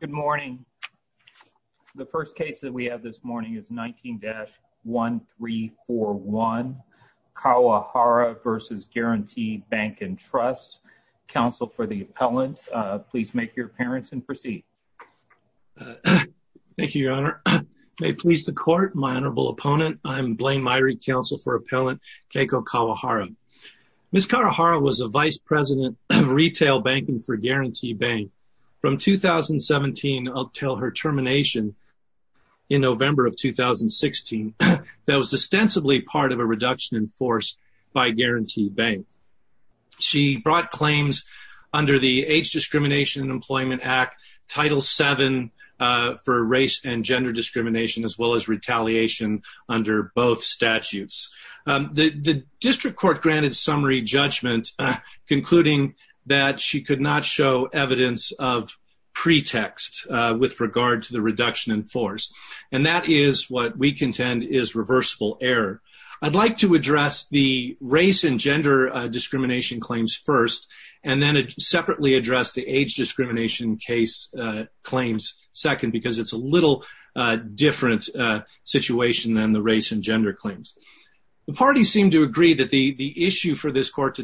Good morning. The first case that we have this morning is 19-1341 Kawahara v. Guaranty Bank and Trust. Counsel for the appellant, please make your appearance and proceed. Thank you, your honor. May it please the court, my honorable opponent, I'm Blaine Myrie, counsel for appellant Keiko Kawahara. Ms. Kawahara was a vice president of retail banking for until her termination in November of 2016 that was ostensibly part of a reduction in force by Guaranty Bank. She brought claims under the Age Discrimination and Employment Act, Title VII for race and gender discrimination as well as retaliation under both statutes. The district court granted summary judgment concluding that she could not show evidence of pretext with regard to the reduction in force and that is what we contend is reversible error. I'd like to address the race and gender discrimination claims first and then separately address the age discrimination case claims second because it's a little different situation than the race and gender claims. The parties seem to agree that the issue for this claim.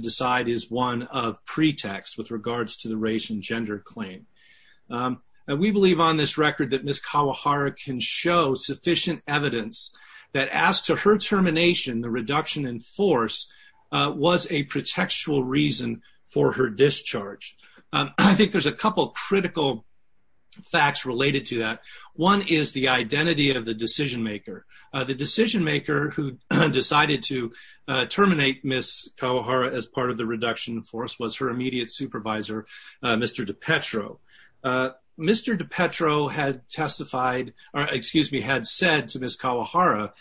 We believe on this record that Ms. Kawahara can show sufficient evidence that as to her termination, the reduction in force was a pretextual reason for her discharge. I think there's a couple critical facts related to that. One is the identity of the decision maker. The decision maker who decided to terminate Ms. Kawahara as part of the reduction in force was her immediate supervisor, Mr. DiPetro. Mr. DiPetro had testified or excuse me had said to Ms. Kawahara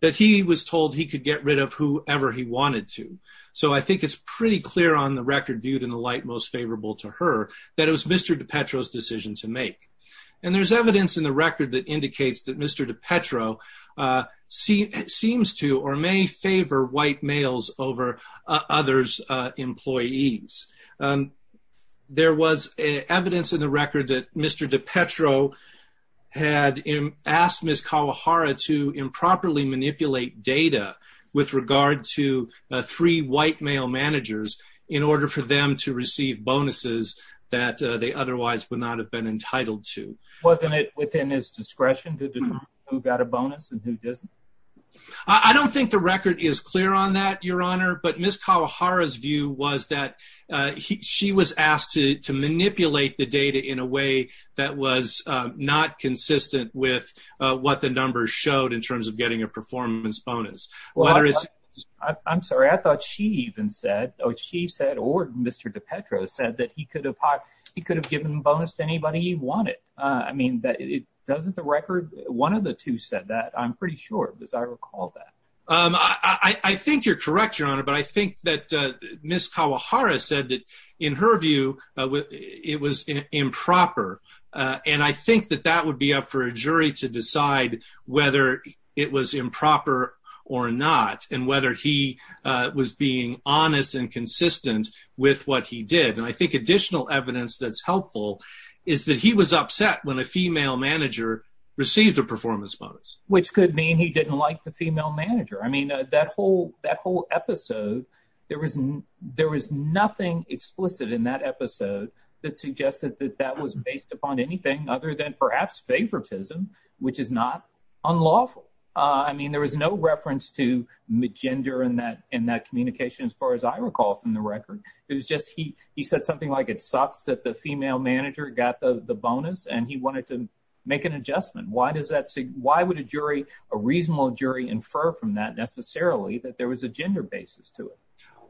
that he was told he could get rid of whoever he wanted to. So I think it's pretty clear on the record viewed in the light most favorable to her that it was Mr. DiPetro's decision to make. And there's evidence in the record that indicates that Mr. DiPetro seems to or may favor white males over others employees. There was evidence in the record that Mr. DiPetro had asked Ms. Kawahara to improperly manipulate data with regard to three white male managers in order for them to receive bonuses that they otherwise would not have been entitled to. Wasn't it within his discretion to determine who got a bonus and who didn't? I don't think the record is clear on that, Your Honor, but Ms. Kawahara's view was that she was asked to manipulate the data in a way that was not consistent with what the numbers showed in terms of getting a performance bonus. I'm sorry, I thought she even said or Mr. DiPetro said that he could have given a bonus to anybody he wanted. I mean, doesn't the record, one of the two said that, I'm pretty sure as I recall that. I think you're correct, Your Honor, but I think that Ms. Kawahara said that in her view it was improper. And I think that that would be up for a jury to decide whether it was improper or not and whether he was being honest and additional evidence that's helpful is that he was upset when a female manager received a performance bonus. Which could mean he didn't like the female manager. I mean, that whole episode, there was nothing explicit in that episode that suggested that that was based upon anything other than perhaps favoritism, which is not unlawful. I mean, there was no reference to gender in that communication as far as I recall from the record. It was just he said something like it sucks that the female manager got the bonus and he wanted to make an adjustment. Why would a jury, a reasonable jury, infer from that necessarily that there was a gender basis to it?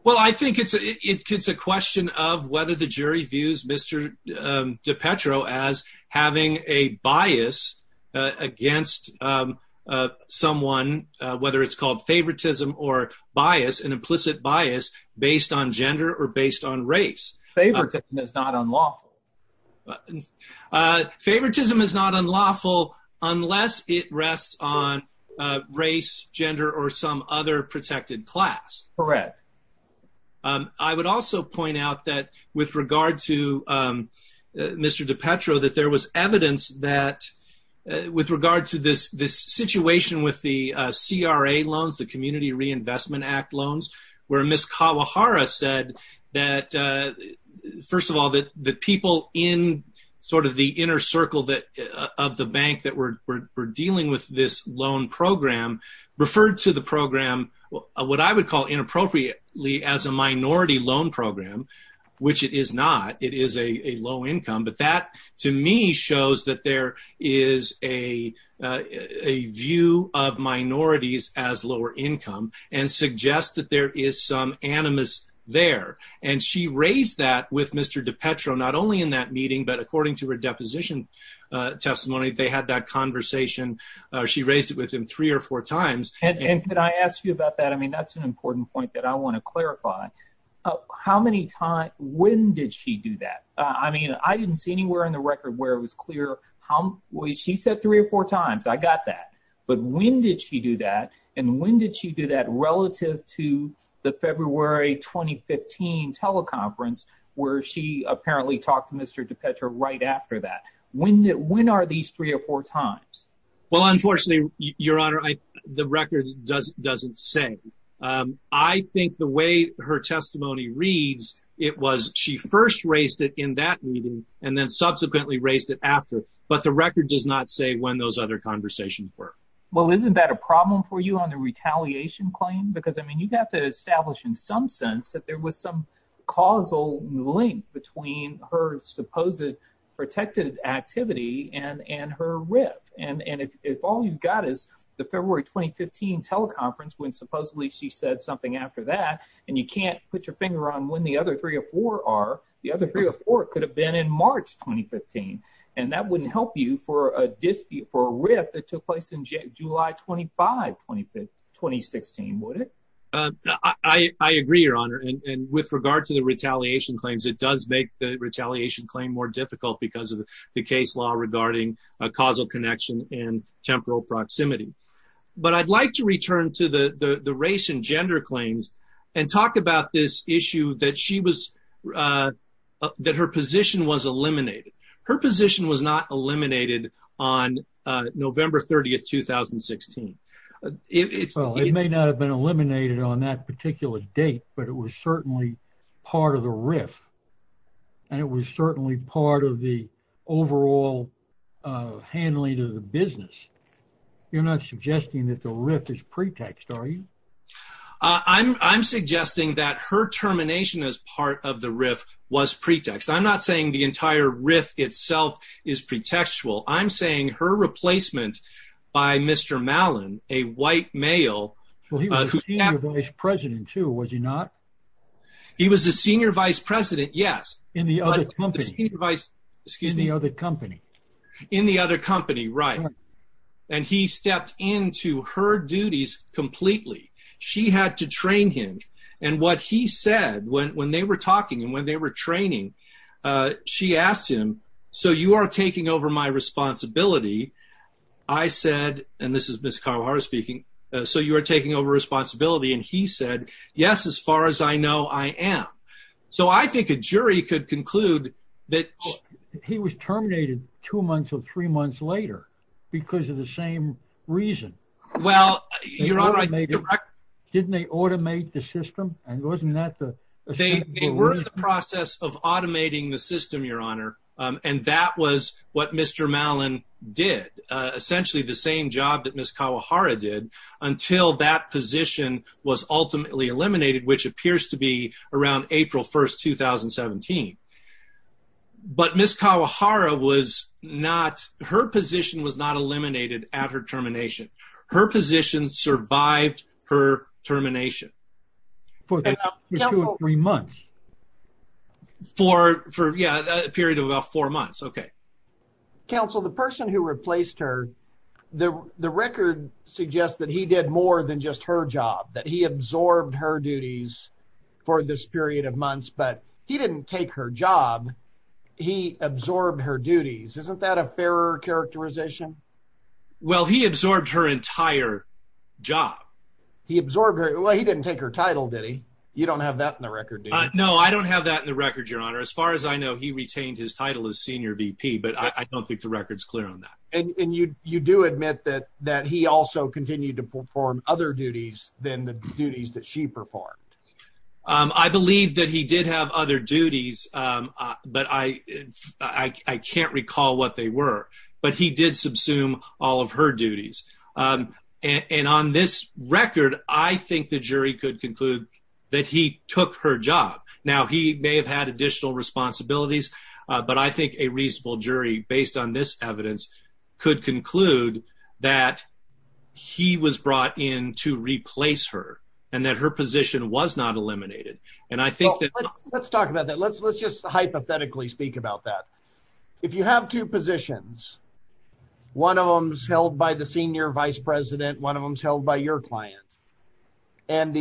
Well, I think it's a question of whether the jury views Mr. DiPetro as having a bias against someone, whether it's called favoritism or bias, an implicit bias based on gender or based on race. Favoritism is not unlawful. Favoritism is not unlawful unless it rests on race, gender, or some other protected class. Correct. I would also point out that with regard to Mr. DiPetro, that there was evidence that with regard to this situation with the CRA loans, the Community Reinvestment Act loans, where Ms. Kawahara said that, first of all, that the people in sort of the inner circle of the bank that were dealing with this loan program referred to the low income. But that, to me, shows that there is a view of minorities as lower income and suggests that there is some animus there. And she raised that with Mr. DiPetro, not only in that meeting, but according to her deposition testimony, they had that conversation. She raised it with him three or four times. And can I ask you about that? I mean, that's an important point that I want to I didn't see anywhere in the record where it was clear. She said three or four times. I got that. But when did she do that? And when did she do that relative to the February 2015 teleconference, where she apparently talked to Mr. DiPetro right after that? When are these three or four times? Well, unfortunately, Your Honor, the record doesn't say. I think the way her testimony reads, it was she first raised it in that meeting and then subsequently raised it after, but the record does not say when those other conversations were. Well, isn't that a problem for you on the retaliation claim? Because I mean, you've got to establish in some sense that there was some causal link between her supposed protected activity and her riff. And if all you've got is the February 2015 teleconference, when supposedly she said something after that, and you can't put your finger on when the other three or four are, the other three or four could have been in March 2015. And that wouldn't help you for a dispute for a riff that took place in July 25, 2016, would it? I agree, Your Honor. And with regard to the retaliation claims, it does make the retaliation claim more difficult because of the case law regarding a causal connection and temporal proximity. But I'd like to return to the race and gender claims and talk about this that her position was eliminated. Her position was not eliminated on November 30, 2016. It may not have been eliminated on that particular date, but it was certainly part of the riff. And it was certainly part of the overall handling of the business. You're not suggesting that the riff is pretext, are you? I'm suggesting that her termination as part of the riff was pretext. I'm not saying the entire riff itself is pretextual. I'm saying her replacement by Mr. Mallon, a white male. Well, he was the senior vice president, too, was he not? He was the senior vice president, yes. In the other company. In the other company, right. And he stepped into her duties completely. She had to train him. And what he said when they were talking and when they were training, she asked him, so you are taking over my responsibility. I said, and this is Ms. Carbajal speaking, so you are taking over responsibility. And he said, yes, as far as I know, I am. So I think a jury could conclude that he was terminated two months or three months later because of the same reason. Well, you're right. Didn't they automate the system? And wasn't that the. They were in the process of automating the system, Your Honor. And that was what Mr. Mallon did, essentially the same job that Ms. Kawahara did until that position was ultimately eliminated, which appears to be around April 1st, 2017. But Ms. Kawahara was not her position was not at her termination. Her position survived her termination. For two or three months. For a period of about four months. Okay. Counsel, the person who replaced her, the record suggests that he did more than just her job, that he absorbed her duties for this period of months. But he didn't take her job. Well, he absorbed her entire job. He absorbed her. Well, he didn't take her title, did he? You don't have that in the record. No, I don't have that in the record, Your Honor. As far as I know, he retained his title as senior VP, but I don't think the record's clear on that. And you do admit that that he also continued to perform other duties than the duties that she performed. I believe that he did have other duties, but I can't recall what they were. But he did subsume all of her duties. And on this record, I think the jury could conclude that he took her job. Now, he may have had additional responsibilities, but I think a reasonable jury based on this evidence could conclude that he was brought in to replace her and that her position was not eliminated. And I think that- Let's talk about that. Let's just hypothetically speak about that. If you have two positions, one of them is held by the senior vice president, one of them is held by your client, and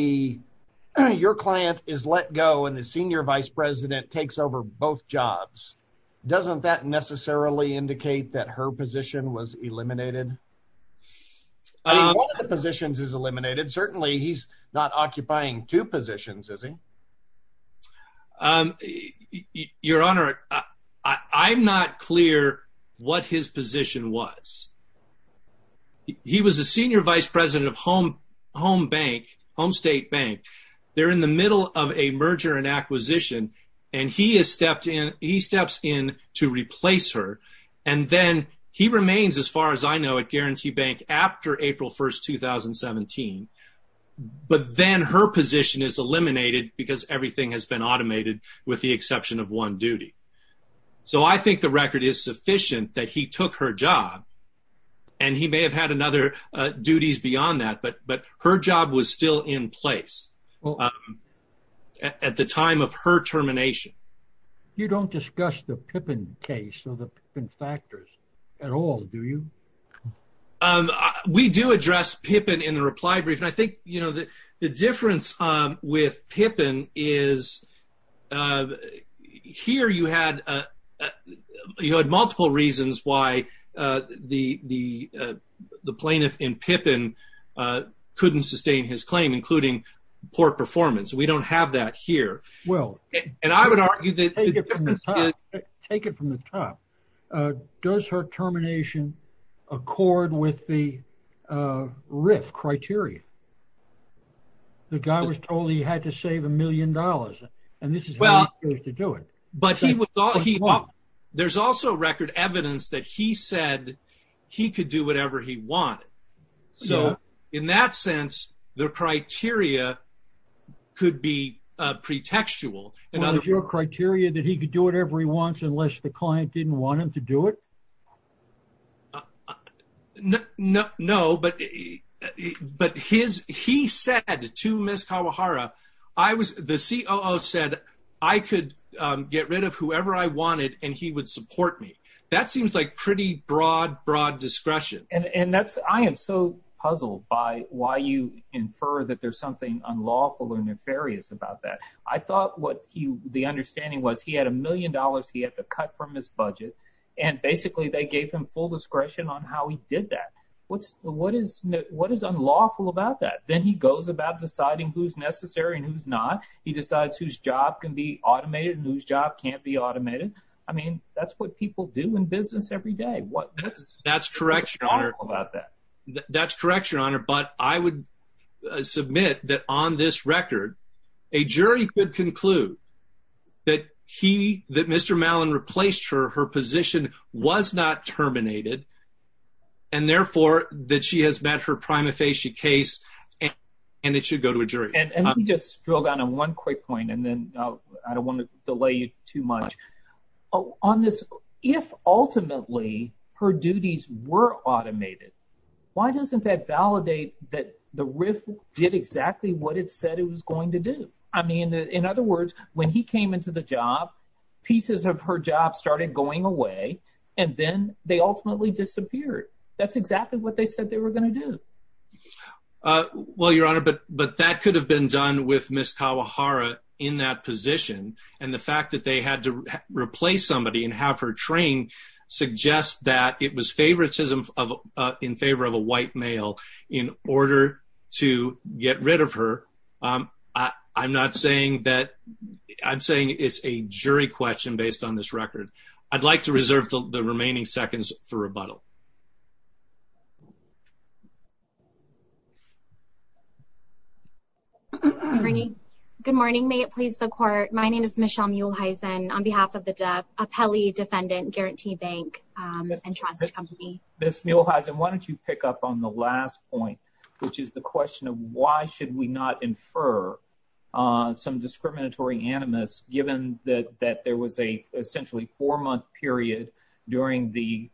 your client is let go and the senior vice president takes over both jobs, doesn't that necessarily indicate that her position was eliminated? One of the positions is eliminated. Certainly, he's not occupying two positions, is he? Your Honor, I'm not clear what his position was. He was the senior vice president of Home State Bank. They're in the middle of a merger and acquisition, and he steps in to replace her. And then he remains, as far as I know, at Guarantee Bank after April 1st, 2017. But then her position is eliminated because everything has been automated with the exception of one duty. So, I think the record is sufficient that he took her job, and he may have had another duties beyond that, but her job was still in place at the time of her termination. You don't discuss the Pippin case or the Pippin factors at all, do you? We do address Pippin in the reply brief, and I think, you know, that the difference with Pippin is here you had multiple reasons why the plaintiff in Pippin couldn't sustain his claim, including poor performance. We don't have that here. Well, take it from the top. Does her termination accord with the RIF criteria? The guy was told he had to save a million dollars, and this is how he chose to do it. There's also record evidence that he said he could do whatever he wanted. So, in that sense, the criteria could be pretextual. Was your criteria that he could do whatever he wants unless the client didn't want him to do it? No, but he said to Ms. Kawahara, the COO said I could get rid of whoever I wanted, and he would support me. That seems like pretty broad, discretion. I am so puzzled by why you infer that there's something unlawful or nefarious about that. I thought the understanding was he had a million dollars he had to cut from his budget, and basically they gave him full discretion on how he did that. What is unlawful about that? Then he goes about deciding who's necessary and who's not. He decides whose job can be automated and whose job can't be automated. I mean, that's what people do in business every day. That's correct, Your Honor, but I would submit that on this record, a jury could conclude that Mr. Mallon replaced her, her position was not terminated, and therefore that she has met her prima facie case, and it should go to a jury. Let me just drill down on one quick point, and then I don't want to delay you too much. On this, if ultimately her duties were automated, why doesn't that validate that the RIF did exactly what it said it was going to do? I mean, in other words, when he came into the job, pieces of her job started going away, and then they ultimately disappeared. That's exactly what they said they were going to do. Well, Your Honor, but that could have been done with Ms. Kawahara in that position, and the fact that they had to replace somebody and have her trained suggests that it was favoritism in favor of a white male in order to get rid of her. I'm saying it's a jury question based on this record. I'd like to reserve the remaining seconds for rebuttal. Good morning. Good morning. May it please the Court, my name is Michelle Muehlhaisen on behalf of the Apelli Defendant Guarantee Bank and Trust Company. Ms. Muehlhaisen, why don't you pick up on the last point, which is the question of why should we not infer some discriminatory animus given that there was a essentially four-month period during the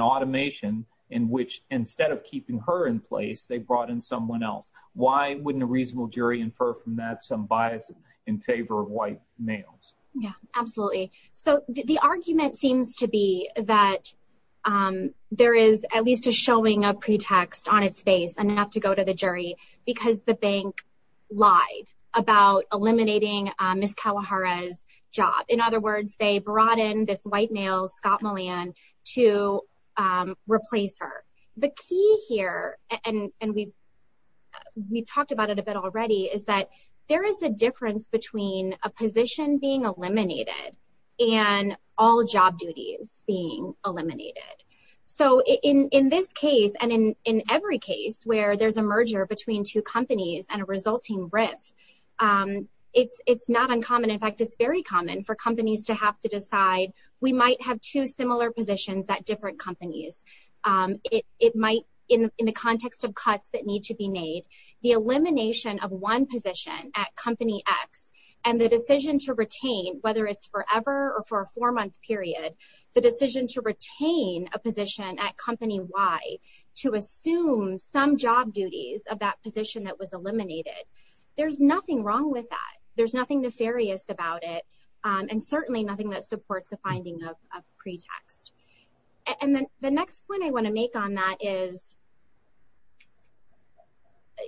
automation in which instead of keeping her in place, they brought in someone else? Why wouldn't a reasonable jury infer from that some bias in favor of white males? Yeah, absolutely. So the argument seems to be that there is at least a showing of pretext on its face and not to go to the jury because the bank lied about eliminating Ms. Kawahara's job. In other words, they brought in this white male, Scott Mullan, to replace her. The key here, and we talked about it a bit already, is that there is a difference between a position being eliminated and all job duties being eliminated. So in this case and in every case where there's a merger between two companies and a resulting riff, it's not uncommon. In fact, it's very common for companies to have to decide we might have two similar positions at different companies. In the context of cuts that need to be made, the elimination of one position at Company X and the decision to retain, whether it's forever or for a four-month period, the decision to retain a position at Company Y to assume some job duties of that position that was eliminated, there's nothing wrong with that. There's nothing nefarious about it, and certainly nothing that supports a finding of pretext. And then the next point I want to make on that is,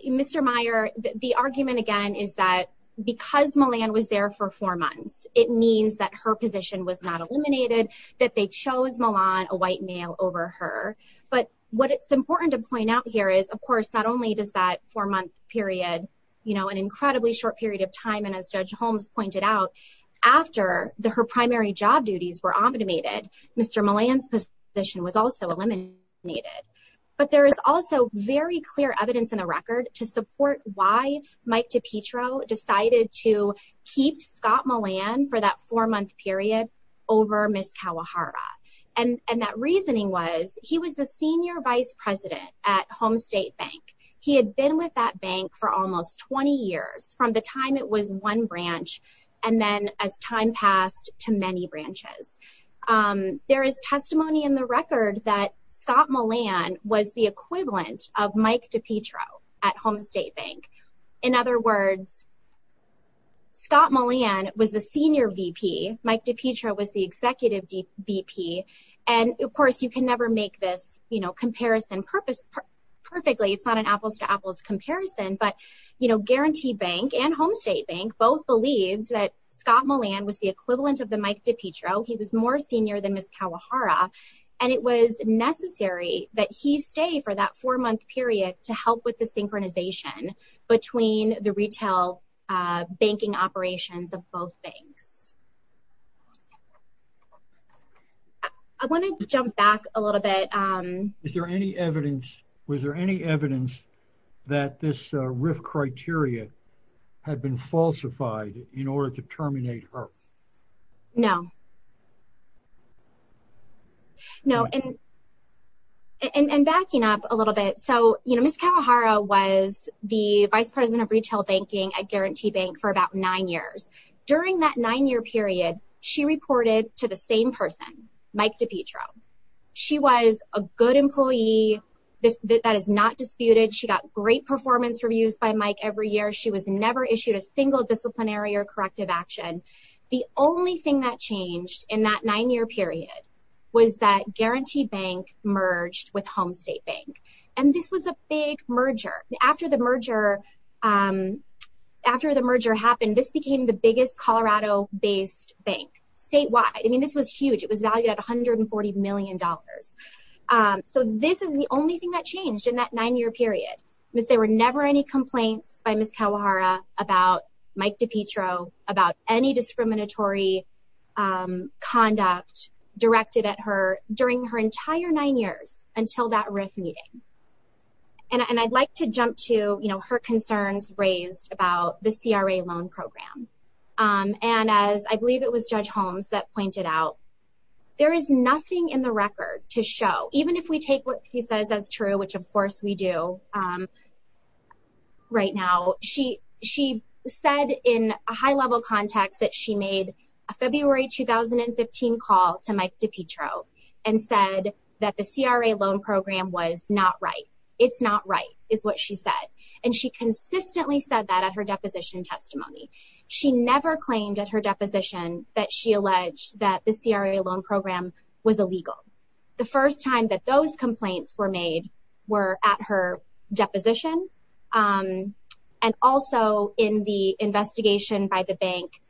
Mr. Meyer, the argument again is that because Mullan was there for four months, it means that her position was not eliminated, that they chose Mullan, a white male, over her. But what it's important to point out here is, of course, not only does that four-month period, an incredibly short period of time, and as Judge Holmes pointed out, after her primary job duties were automated, Mr. Mullan's position was also eliminated. But there is also very clear evidence in the record to support why Mike DiPietro decided to keep Scott Mullan for that four-month period over Ms. Kawahara. And that reasoning was, he was the senior vice president at Homestate Bank. He had been with that bank for almost 20 years, from the time it was one branch, and then, as time passed, to many branches. There is testimony in the record that Scott Mullan was the equivalent of Mike DiPietro at Homestate Bank. In other words, Scott Mullan was the senior VP. Mike DiPietro was the executive VP. And, of course, you can never make this comparison perfectly. It's not an apples-to-apples comparison. But Guaranteed Bank and Homestate Bank both believed that Scott Mullan was the equivalent of the Mike DiPietro. He was more senior than Ms. Kawahara. And it was necessary that he stay for that four-month period to help with the synchronization between the retail banking operations of both banks. I want to jump back a little bit. Is there any evidence that this RIF criteria had been falsified in order to terminate her? No. And backing up a little bit, Ms. Kawahara was the Vice President of Retail Banking at Guaranteed Bank for about nine years. During that nine-year period, she reported to the same person, Mike DiPietro. She was a good employee. That is not disputed. She got great performance reviews by Mike every year. She was never issued a single disciplinary or corrective action. The only thing that changed in that nine-year period was that Guaranteed Bank merged with Homestate Bank. And this was a big merger. After the merger happened, this became the biggest Colorado-based bank statewide. I mean, this was huge. It was valued at $140 million. So this is the only thing that changed in that nine-year period, but there were never any complaints by Ms. Kawahara about Mike DiPietro, about any discriminatory conduct directed at her during her entire nine years until that RIF meeting. And I'd like to jump to her concerns raised about the CRA loan program. And as I believe it was Judge Holmes that pointed out, there is nothing in the record to show, even if we take what he says as true, which of course we do right now, she said in a high-level context that she made a February 2015 call to Mike DiPietro and said that the CRA loan program was not right. It's not right is what she said. And she consistently said that at her deposition testimony. She never claimed at her deposition that she alleged that the CRA loan program was illegal. The first time that those complaints were made were at her deposition. And also in the investigation by the bank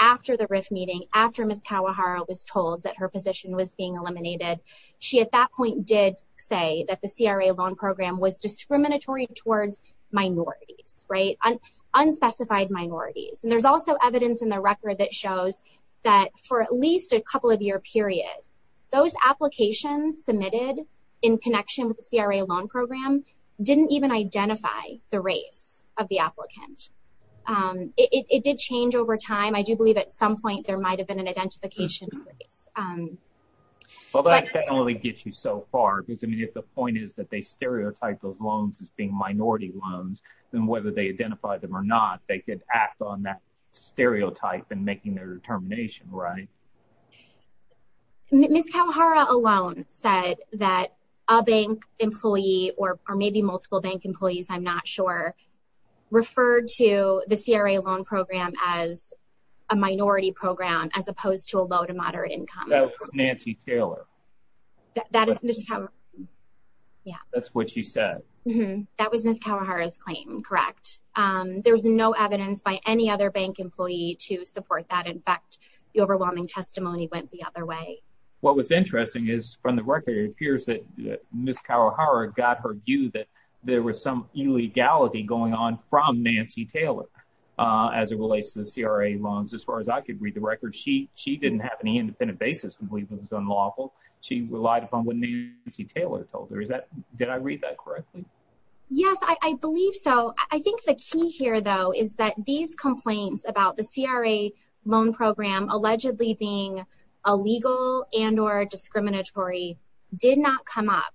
after the RIF meeting, after Ms. Kawahara was told that her position was being eliminated, she at that point did say that the CRA loan program was discriminatory towards minorities, right? Unspecified minorities. And there's also those applications submitted in connection with the CRA loan program didn't even identify the race of the applicant. It did change over time. I do believe at some point there might have been an identification. Well, that generally gets you so far because I mean, if the point is that they stereotype those loans as being minority loans, then whether they identify them or not, they could act on that stereotype and making their determination, right? Okay. Ms. Kawahara alone said that a bank employee or maybe multiple bank employees, I'm not sure, referred to the CRA loan program as a minority program as opposed to a low to moderate income. That was Nancy Taylor. That is Ms. Kawahara. Yeah. That's what she said. That was Ms. Kawahara's claim. Correct. There was no evidence by any other bank employee to support that. In fact, the overwhelming testimony went the other way. What was interesting is from the record, it appears that Ms. Kawahara got her view that there was some illegality going on from Nancy Taylor as it relates to the CRA loans. As far as I could read the record, she didn't have any independent basis to believe it was unlawful. She relied upon what Nancy Taylor told her. Did I read that correctly? Yes, I believe so. I think the key here though is that these complaints about the CRA loan program allegedly being illegal and or discriminatory did not come up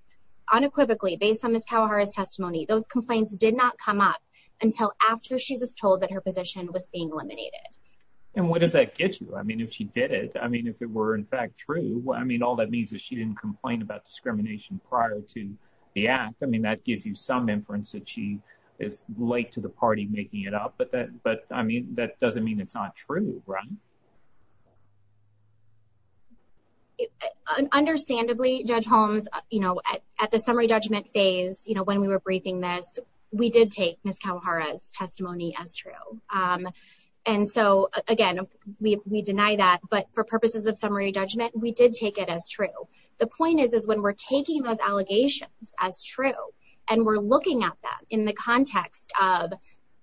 unequivocally based on Ms. Kawahara's testimony. Those complaints did not come up until after she was told that her position was being eliminated. What does that get you? I mean, if she did it, I mean, if it were in fact true, I mean, all that means is she didn't complain about discrimination prior to the act. I mean, that gives you some inference that she is late to party making it up, but that doesn't mean it's not true, right? Understandably, Judge Holmes, at the summary judgment phase when we were briefing this, we did take Ms. Kawahara's testimony as true. Again, we deny that, but for purposes of summary judgment, we did take it as true. The point is when we're taking those allegations as true and we're looking at them in the context of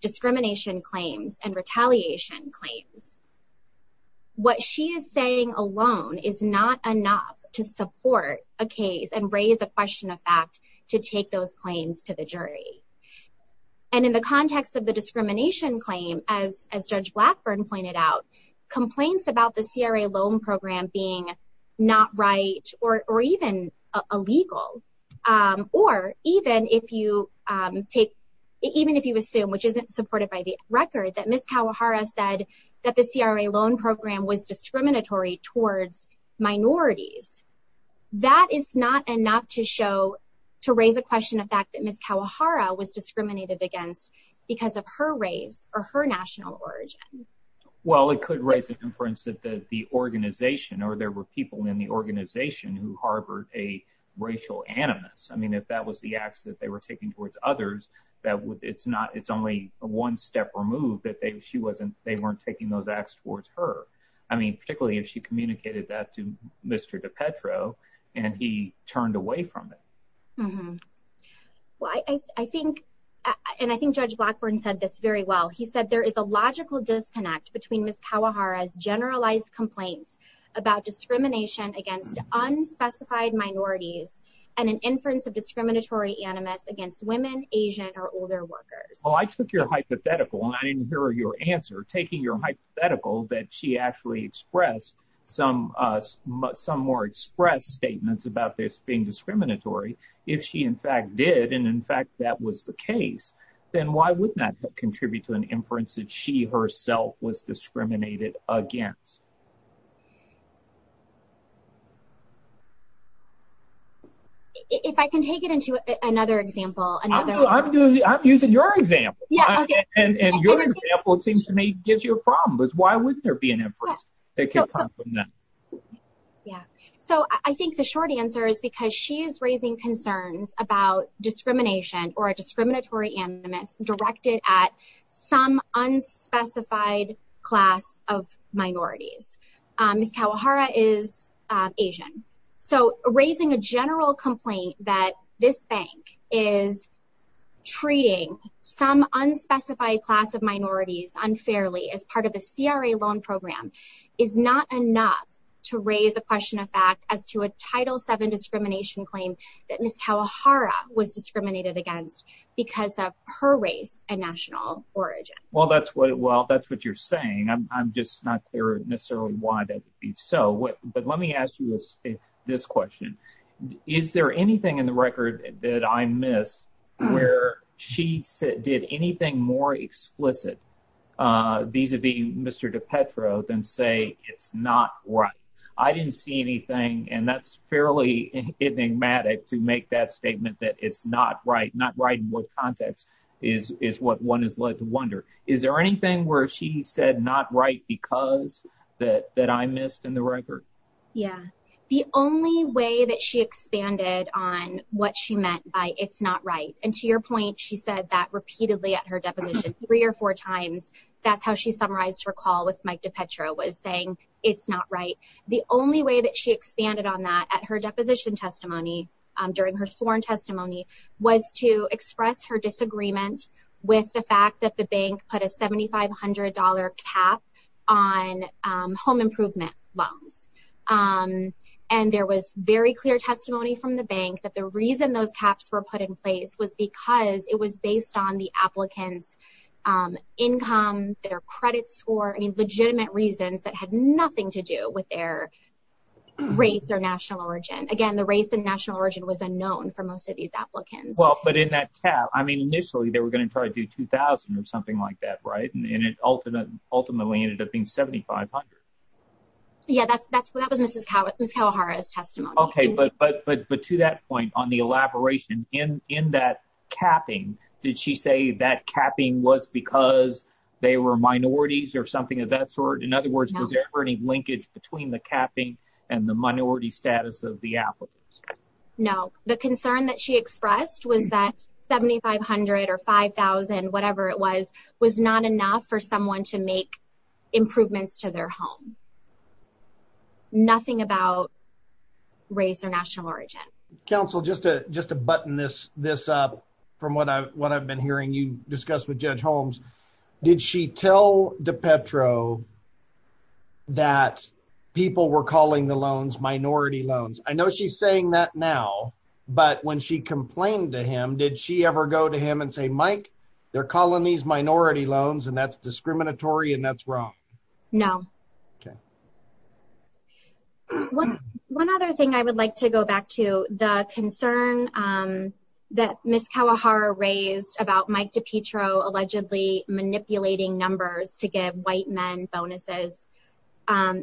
discrimination claims and retaliation claims, what she is saying alone is not enough to support a case and raise a question of fact to take those claims to the jury. And in the context of the discrimination claim, as Judge Blackburn pointed out, complaints about the CRA loan program being not right or even illegal, or even if you assume, which isn't supported by the record, that Ms. Kawahara said that the CRA loan program was discriminatory towards minorities, that is not enough to show, to raise a question of fact that Ms. Kawahara was discriminated against because of her race or her national origin. Well, it could raise an inference that the organization or there were people in the organization who harbored a racial animus. I mean, if that was the acts that they were taking towards others, it's only one step removed that they weren't taking those acts towards her. I mean, particularly if she communicated that to Mr. DiPetro and he turned away from it. Mm-hmm. Well, I think, and I think Judge Blackburn said this very well. He said, there is a logical disconnect between Ms. Kawahara's generalized complaints about discrimination against unspecified minorities and an inference of discriminatory animus against women, Asian, or older workers. Well, I took your hypothetical and I didn't hear your answer, taking your hypothetical that she actually expressed some more expressed statements about being discriminatory. If she in fact did, and in fact, that was the case, then why would not contribute to an inference that she herself was discriminated against? If I can take it into another example. I'm using your example. Yeah. Okay. And your example, it seems to me, gives you a problem, because why wouldn't there be an inference that came from them? Yeah. So I think the short answer is because she is raising concerns about discrimination or a discriminatory animus directed at some unspecified class of minorities. Ms. Kawahara is Asian. So raising a general complaint that this bank is treating some unspecified class of minorities unfairly as part of the CRA loan program is not enough to raise a question of fact as to a Title VII discrimination claim that Ms. Kawahara was discriminated against because of her race and national origin. Well, that's what you're saying. I'm just not clear necessarily why that would be so. But let me ask you this question. Is there anything in the record that I missed where she did anything more explicit vis-a-vis Mr. DiPetro than say it's not right? I didn't see anything, and that's fairly enigmatic to make that statement that it's not right. Not right in what context is what one is led to wonder. Is there anything where she said not right because that I missed in the record? Yeah. The only way that she expanded on what she meant by it's not right, and to your point, she said that repeatedly at her deposition three or four times. That's how she summarized her call with Mike DiPetro was saying it's not right. The only way that she expanded on that at her deposition testimony during her sworn testimony was to express her disagreement with the fact that the bank put a $7,500 cap on home improvement loans. There was very clear testimony from the bank that the reason those caps were put in place was because it was based on the applicant's income, their credit score, legitimate reasons that had nothing to do with their race or national origin. Again, the race and national origin was unknown for most of these applications. The concern that she expressed was that $7,500 or $5,000, whatever it was, not enough for someone to make improvements to their home. Nothing about race or national origin. Counsel, just to button this up from what I've been hearing you discuss with Judge Holmes, did she tell DiPetro that people were calling the loans minority loans? I know she's saying that now, but when she complained to him, did she ever go to him and say, Mike, they're calling these minority loans and that's discriminatory and that's wrong? No. Okay. One other thing I would like to go back to, the concern that Ms. Kawahara raised about Mike DiPetro allegedly manipulating numbers to give white men bonuses.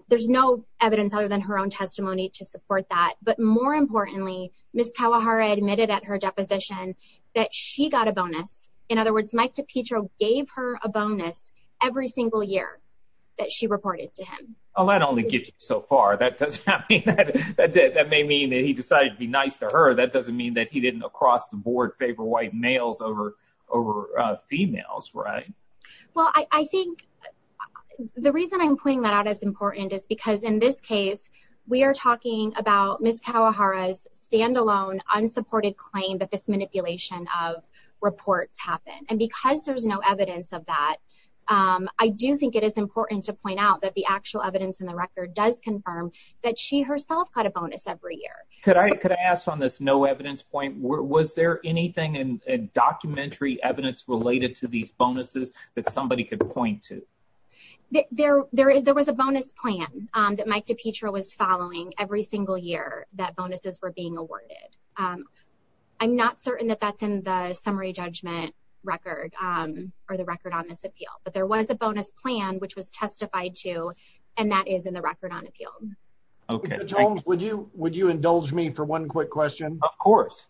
There's no evidence other than her own testimony to support that. But more importantly, Ms. Kawahara admitted at her deposition that she got a bonus. In other words, Mike DiPetro gave her a bonus every single year that she reported to him. Oh, that only gets you so far. That may mean that he decided to be nice to her. That doesn't mean that he didn't across the board favor white males over females, right? Well, I think the reason I'm putting that out is because in this case, we are talking about Ms. Kawahara's standalone unsupported claim that this manipulation of reports happened. And because there's no evidence of that, I do think it is important to point out that the actual evidence in the record does confirm that she herself got a bonus every year. Could I ask on this no evidence point, was there anything in documentary evidence related to these bonuses that somebody could point to? There was a bonus plan that Mike DiPetro was following every single year that bonuses were being awarded. I'm not certain that that's in the summary judgment record or the record on this appeal, but there was a bonus plan which was testified to and that is in the record on appeal. Okay, Jones, would you indulge me for one quick question? Of course.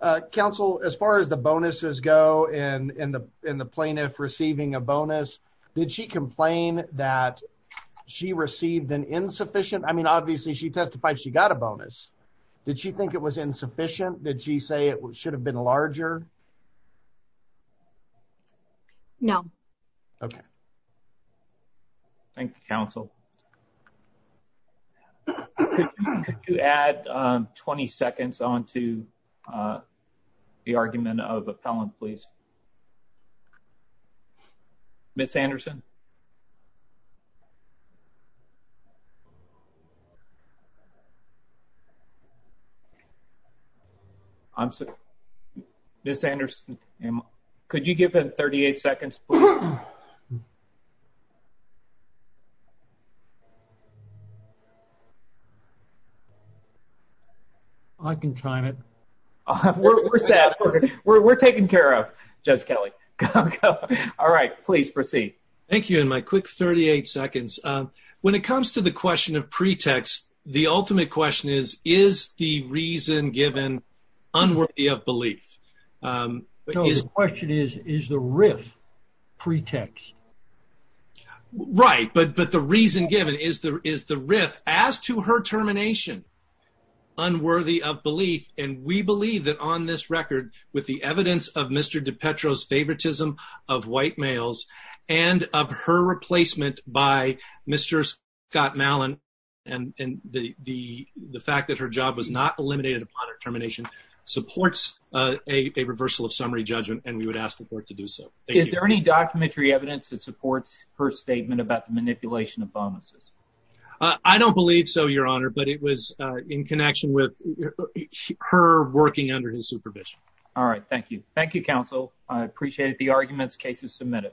Uh, Council, as far as the bonuses go and in the in the plaintiff receiving a bonus, did she complain that she received an insufficient? I mean, obviously, she testified she got a bonus. Did she think it was insufficient? Did she say it should have been uh, the argument of appellant, please? Ms. Anderson? I'm sorry, Ms. Anderson, could you give him 38 seconds? All right, please proceed. Thank you. In my quick 38 seconds, when it comes to the question of pretext, the ultimate question is, is the reason given unworthy of belief? The question is, is the riff pretext? Right, but the reason given is the riff as to her termination unworthy of belief, and we believe that on this record, with the evidence of Mr. DiPetro's favoritism of white males and of her replacement by Mr. Scott Malin and the fact that her job was not eliminated upon her termination supports a reversal of summary judgment, and we would ask the court to do so. Is there any documentary evidence that supports her statement about the manipulation of bonuses? I don't believe so, Your Honor, but it was in connection with her working under his supervision. All right, thank you. Thank you, Council. I appreciate it. The argument's case is submitted.